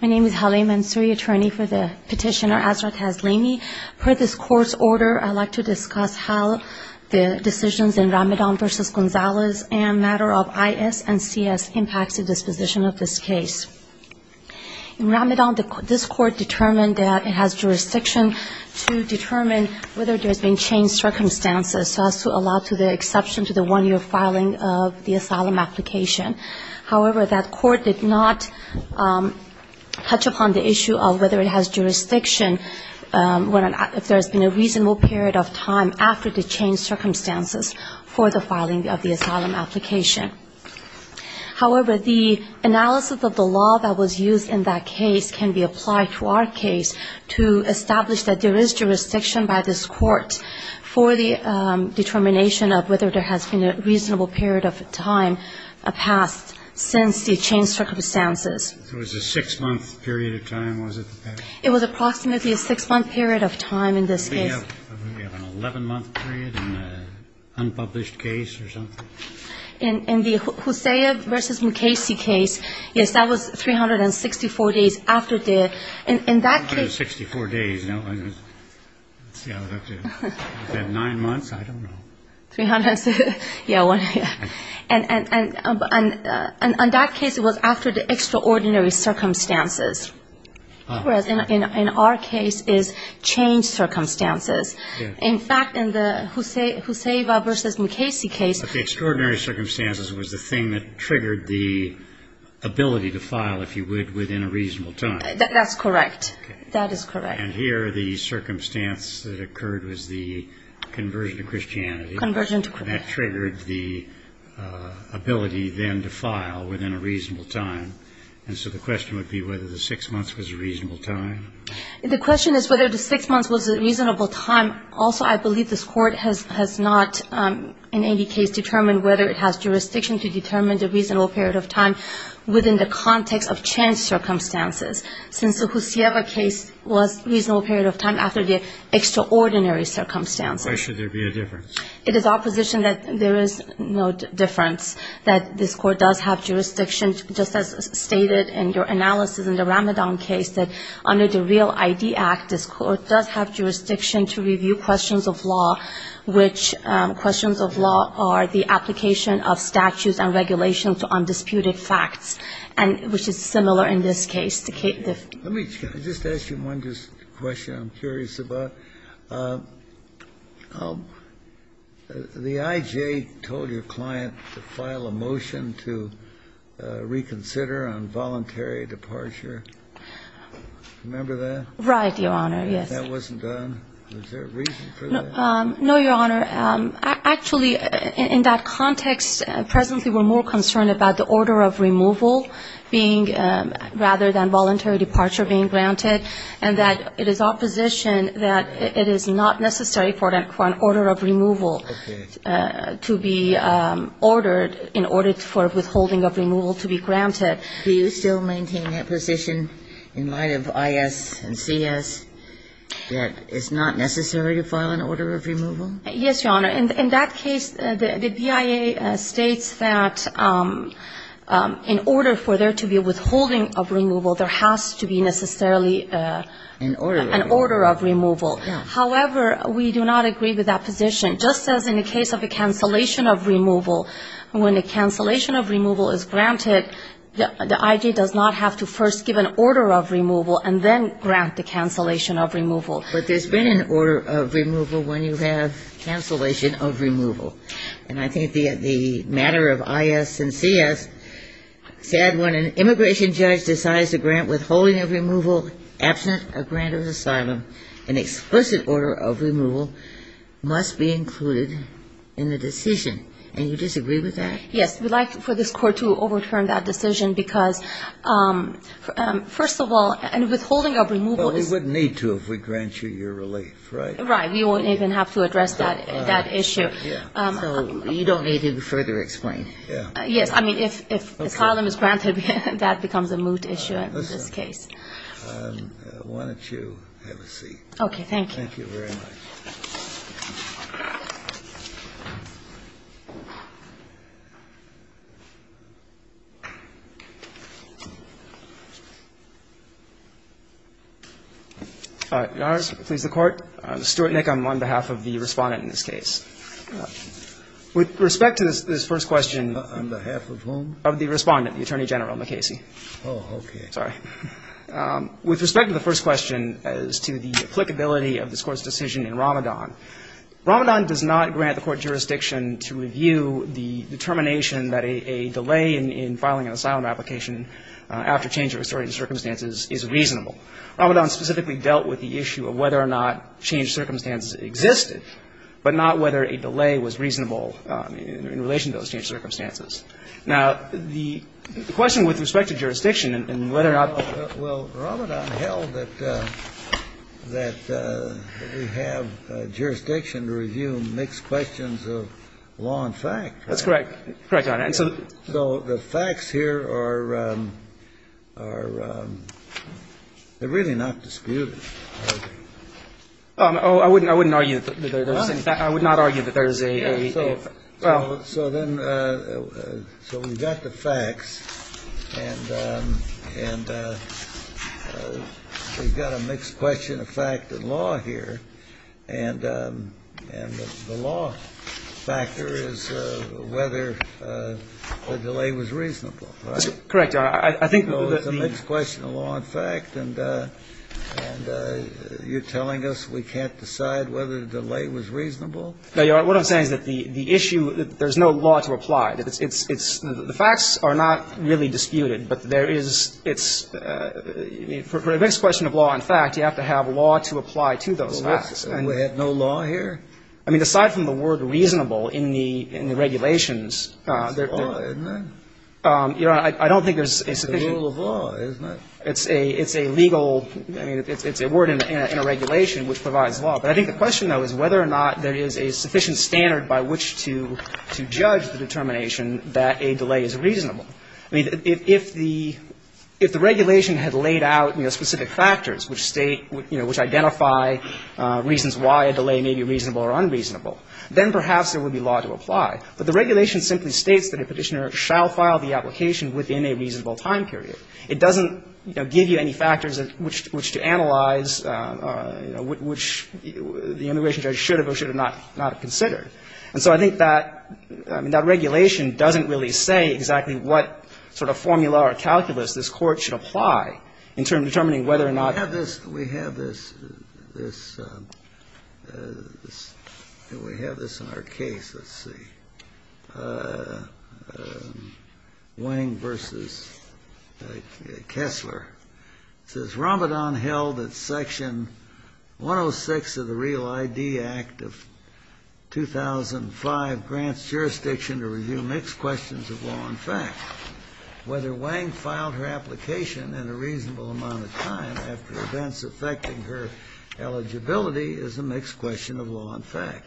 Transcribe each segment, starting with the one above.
My name is Haleh Mansouri, attorney for the petitioner Azra Tazlimi. Per this court's order, I'd like to discuss how the decisions in Ramadan v. Gonzalez and a matter of I.S. and C.S. impacts the disposition of this case. In Ramadan, this court determined that it has jurisdiction to determine whether there's been changed circumstances so as to allow to the exception to the one-year filing of the asylum application. However, that court did not touch upon the issue of whether it has jurisdiction if there's been a reasonable period of time after the changed circumstances for the filing of the asylum application. However, the analysis of the law that was used in that case can be applied to our case to establish that there is jurisdiction by this court for the determination of whether there has been a reasonable period of time passed since the changed circumstances. It was a six-month period of time, was it? It was approximately a six-month period of time in this case. Do we have an 11-month period in an unpublished case or something? In the Huseyva v. Mukasey case, yes, that was 364 days after the... 364 days. Is that nine months? I don't know. Yeah. And in that case, it was after the extraordinary circumstances, whereas in our case, it's changed circumstances. In fact, in the Huseyva v. Mukasey case... But the extraordinary circumstances was the thing that triggered the ability to file, if you would, within a reasonable time. That's correct. That is correct. And here, the circumstance that occurred was the conversion to Christianity. Conversion to Christianity. That triggered the ability then to file within a reasonable time. And so the question would be whether the six months was a reasonable time. The question is whether the six months was a reasonable time. Also, I believe this Court has not in any case determined whether it has jurisdiction to determine the reasonable period of time within the context of changed circumstances, since the Huseyva case was a reasonable period of time after the extraordinary circumstances. Why should there be a difference? It is our position that there is no difference, that this Court does have jurisdiction, just as stated in your analysis in the Ramadan case, that under the Real ID Act, this Court does have jurisdiction to review questions of law, which questions of law are the application of statutes and regulations to undisputed facts, and which is similar in this case. Let me just ask you one question I'm curious about. The IJA told your client to file a motion to reconsider on voluntary departure. Remember that? Right, Your Honor, yes. If that wasn't done, was there a reason for that? No, Your Honor. Actually, in that context, presently we're more concerned about the order of removal being rather than voluntary departure being granted, and that it is our position that it is not necessary for an order of removal to be ordered in order for withholding of removal to be granted. Do you still maintain that position in light of I.S. and C.S., that it's not necessary to file an order of removal? Yes, Your Honor. In that case, the BIA states that in order for there to be withholding of removal, there has to be necessarily an order of removal. However, we do not agree with that position. Just as in the case of a cancellation of removal, when a cancellation of removal is granted, the I.J. does not have to first give an order of removal and then grant the cancellation of removal. But there's been an order of removal when you have cancellation of removal. And I think the matter of I.S. and C.S. said when an immigration judge decides to grant withholding of removal absent a grant of asylum, an explicit order of removal must be included in the decision. And you disagree with that? Yes. We'd like for this Court to overturn that decision, because, first of all, a withholding of removal is It wouldn't need to if we grant you your relief, right? Right. We wouldn't even have to address that issue. So you don't need to further explain? Yes. I mean, if asylum is granted, that becomes a moot issue in this case. Why don't you have a seat? Okay. Thank you. Thank you very much. All right. Your Honors, please, the Court. Stuart Nickam on behalf of the Respondent in this case. With respect to this first question. On behalf of whom? Of the Respondent, the Attorney General, McCasey. Oh, okay. Sorry. With respect to the first question as to the applicability of this Court's decision in Ramadan, Ramadan does not grant the Court jurisdiction to review the determination that a delay in filing an asylum application after change of historic circumstances is reasonable. Ramadan specifically dealt with the issue of whether or not change circumstances existed, but not whether a delay was reasonable in relation to those changed circumstances. Now, the question with respect to jurisdiction and whether or not the ---- Well, Ramadan held that we have jurisdiction to review mixed questions of law and fact. That's correct. Correct, Your Honor. So the facts here are really not disputed, are they? Oh, I wouldn't argue that there is. I would not argue that there is a ---- So then we've got the facts, and we've got a mixed question of fact and law here. And the law factor is whether the delay was reasonable, right? Correct, Your Honor. I think that the ---- So it's a mixed question of law and fact, and you're telling us we can't decide whether the delay was reasonable? No, Your Honor. What I'm saying is that the issue, there's no law to apply. It's the facts are not really disputed, but there is its ---- for a mixed question of law and fact, you have to have law to apply to those facts. And we have no law here? I mean, aside from the word reasonable in the regulations ---- It's a law, isn't it? Your Honor, I don't think there's a sufficient ---- It's a rule of law, isn't it? It's a legal ---- I mean, it's a word in a regulation which provides law. But I think the question, though, is whether or not there is a sufficient standard by which to judge the determination that a delay is reasonable. I mean, if the ---- if the regulation had laid out, you know, specific factors which state, you know, which identify reasons why a delay may be reasonable or unreasonable, then perhaps there would be law to apply. But the regulation simply states that a Petitioner shall file the application within a reasonable time period. It doesn't, you know, give you any factors which to analyze, which the immigration judge should have or should have not considered. And so I think that ---- I mean, that regulation doesn't really say exactly what sort of formula or calculus this Court should apply in determining whether or not ---- We have this ---- we have this in our case. Let's see. Wang v. Kessler. It says, ''Ramadan held that Section 106 of the Real ID Act of 2005 grants jurisdiction to review mixed questions of law and fact. Whether Wang filed her application in a reasonable amount of time after events affecting her eligibility is a mixed question of law and fact.''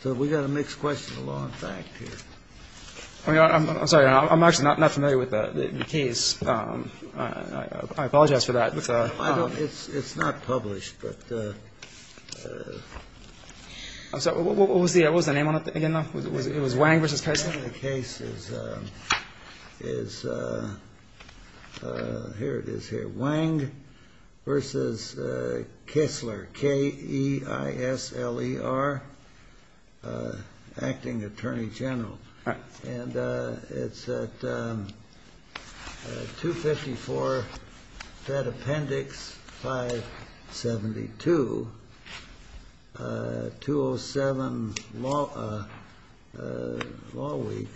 So we've got a mixed question of law and fact here. I'm sorry. I'm actually not familiar with the case. I apologize for that. It's not published, but ---- I'm sorry. What was the name on it again, though? It was Wang v. Kessler? The name of the case is, here it is here, Wang v. Kessler, K-E-I-S-L-E-R, Acting Attorney General. And it's at 254 Fed Appendix 572, 207, Law Week,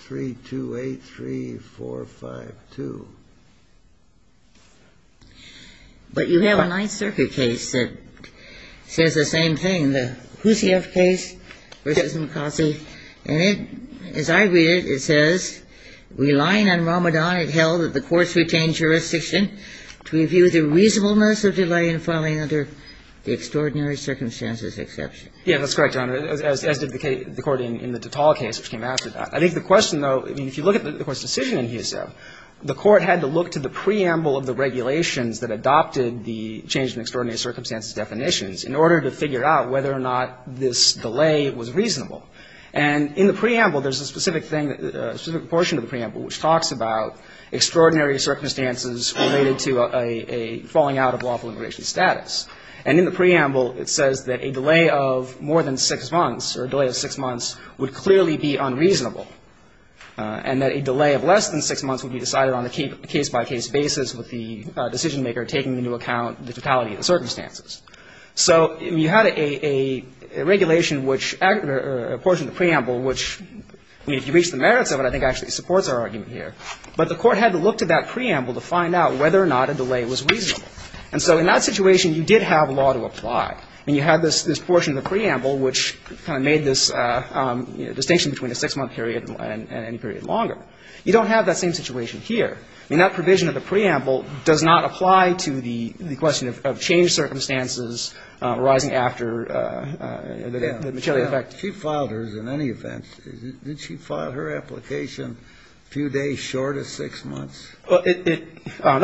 328-3452. But you have a Ninth Circuit case that says the same thing, the Hussieff case v. McCossie. And it, as I read it, it says, ''Relying on Ramadan, it held that the courts retained jurisdiction to review the reasonableness of delay in filing under the extraordinary circumstances exception.'' Yeah, that's correct, Your Honor, as did the court in the Tatal case, which came after that. I think the question, though, I mean, if you look at the Court's decision in Hussieff, the Court had to look to the preamble of the regulations that adopted the change in extraordinary circumstances definitions in order to figure out whether or not this delay was reasonable. And in the preamble, there's a specific thing, a specific portion of the preamble, which talks about extraordinary circumstances related to a falling out of lawful immigration status. And in the preamble, it says that a delay of more than six months or a delay of six months would clearly be unreasonable, and that a delay of less than six months would be decided on a case-by-case basis with the decisionmaker taking into account the totality of the circumstances. So you had a regulation which or a portion of the preamble which, I mean, if you reach the merits of it, I think actually supports our argument here. But the Court had to look to that preamble to find out whether or not a delay was reasonable. And so in that situation, you did have law to apply. I mean, you had this portion of the preamble which kind of made this distinction between a six-month period and any period longer. You don't have that same situation here. I mean, that provision of the preamble does not apply to the question of changed circumstances arising after the material effect. She filed hers in any event. Did she file her application a few days short of six months? That's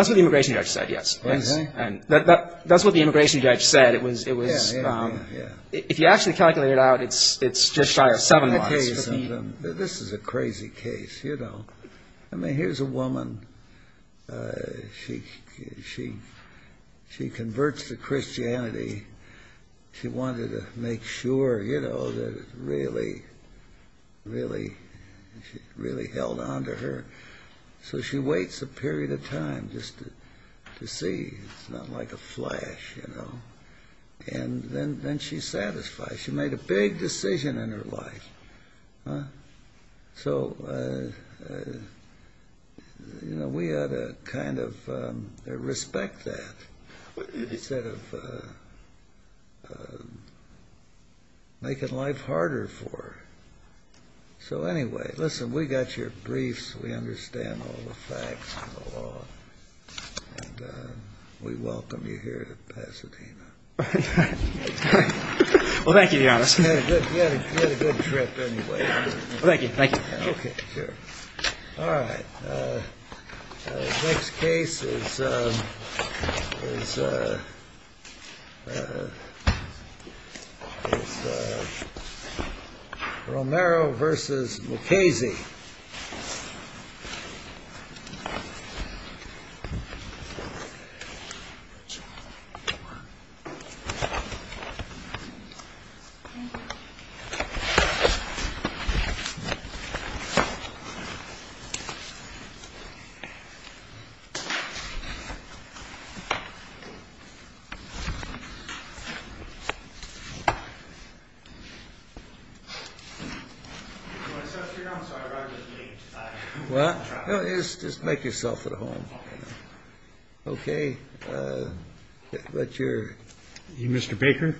what the immigration judge said, yes. That's what the immigration judge said. It was ‑‑ Yeah, yeah, yeah. If you actually calculate it out, it's just shy of seven months. This is a crazy case, you know. I mean, here's a woman. She converts to Christianity. She wanted to make sure, you know, that it really, really held on to her. So she waits a period of time just to see. It's not like a flash, you know. And then she's satisfied. She made a big decision in her life. So, you know, we ought to kind of respect that instead of making life harder for her. So anyway, listen, we got your briefs. We understand all the facts and the law. And we welcome you here to Pasadena. Well, thank you, Your Honor. You had a good trip anyway. Thank you, thank you. Okay, sure. All right. The next case is Romero v. Mukasey. Mr. Baker?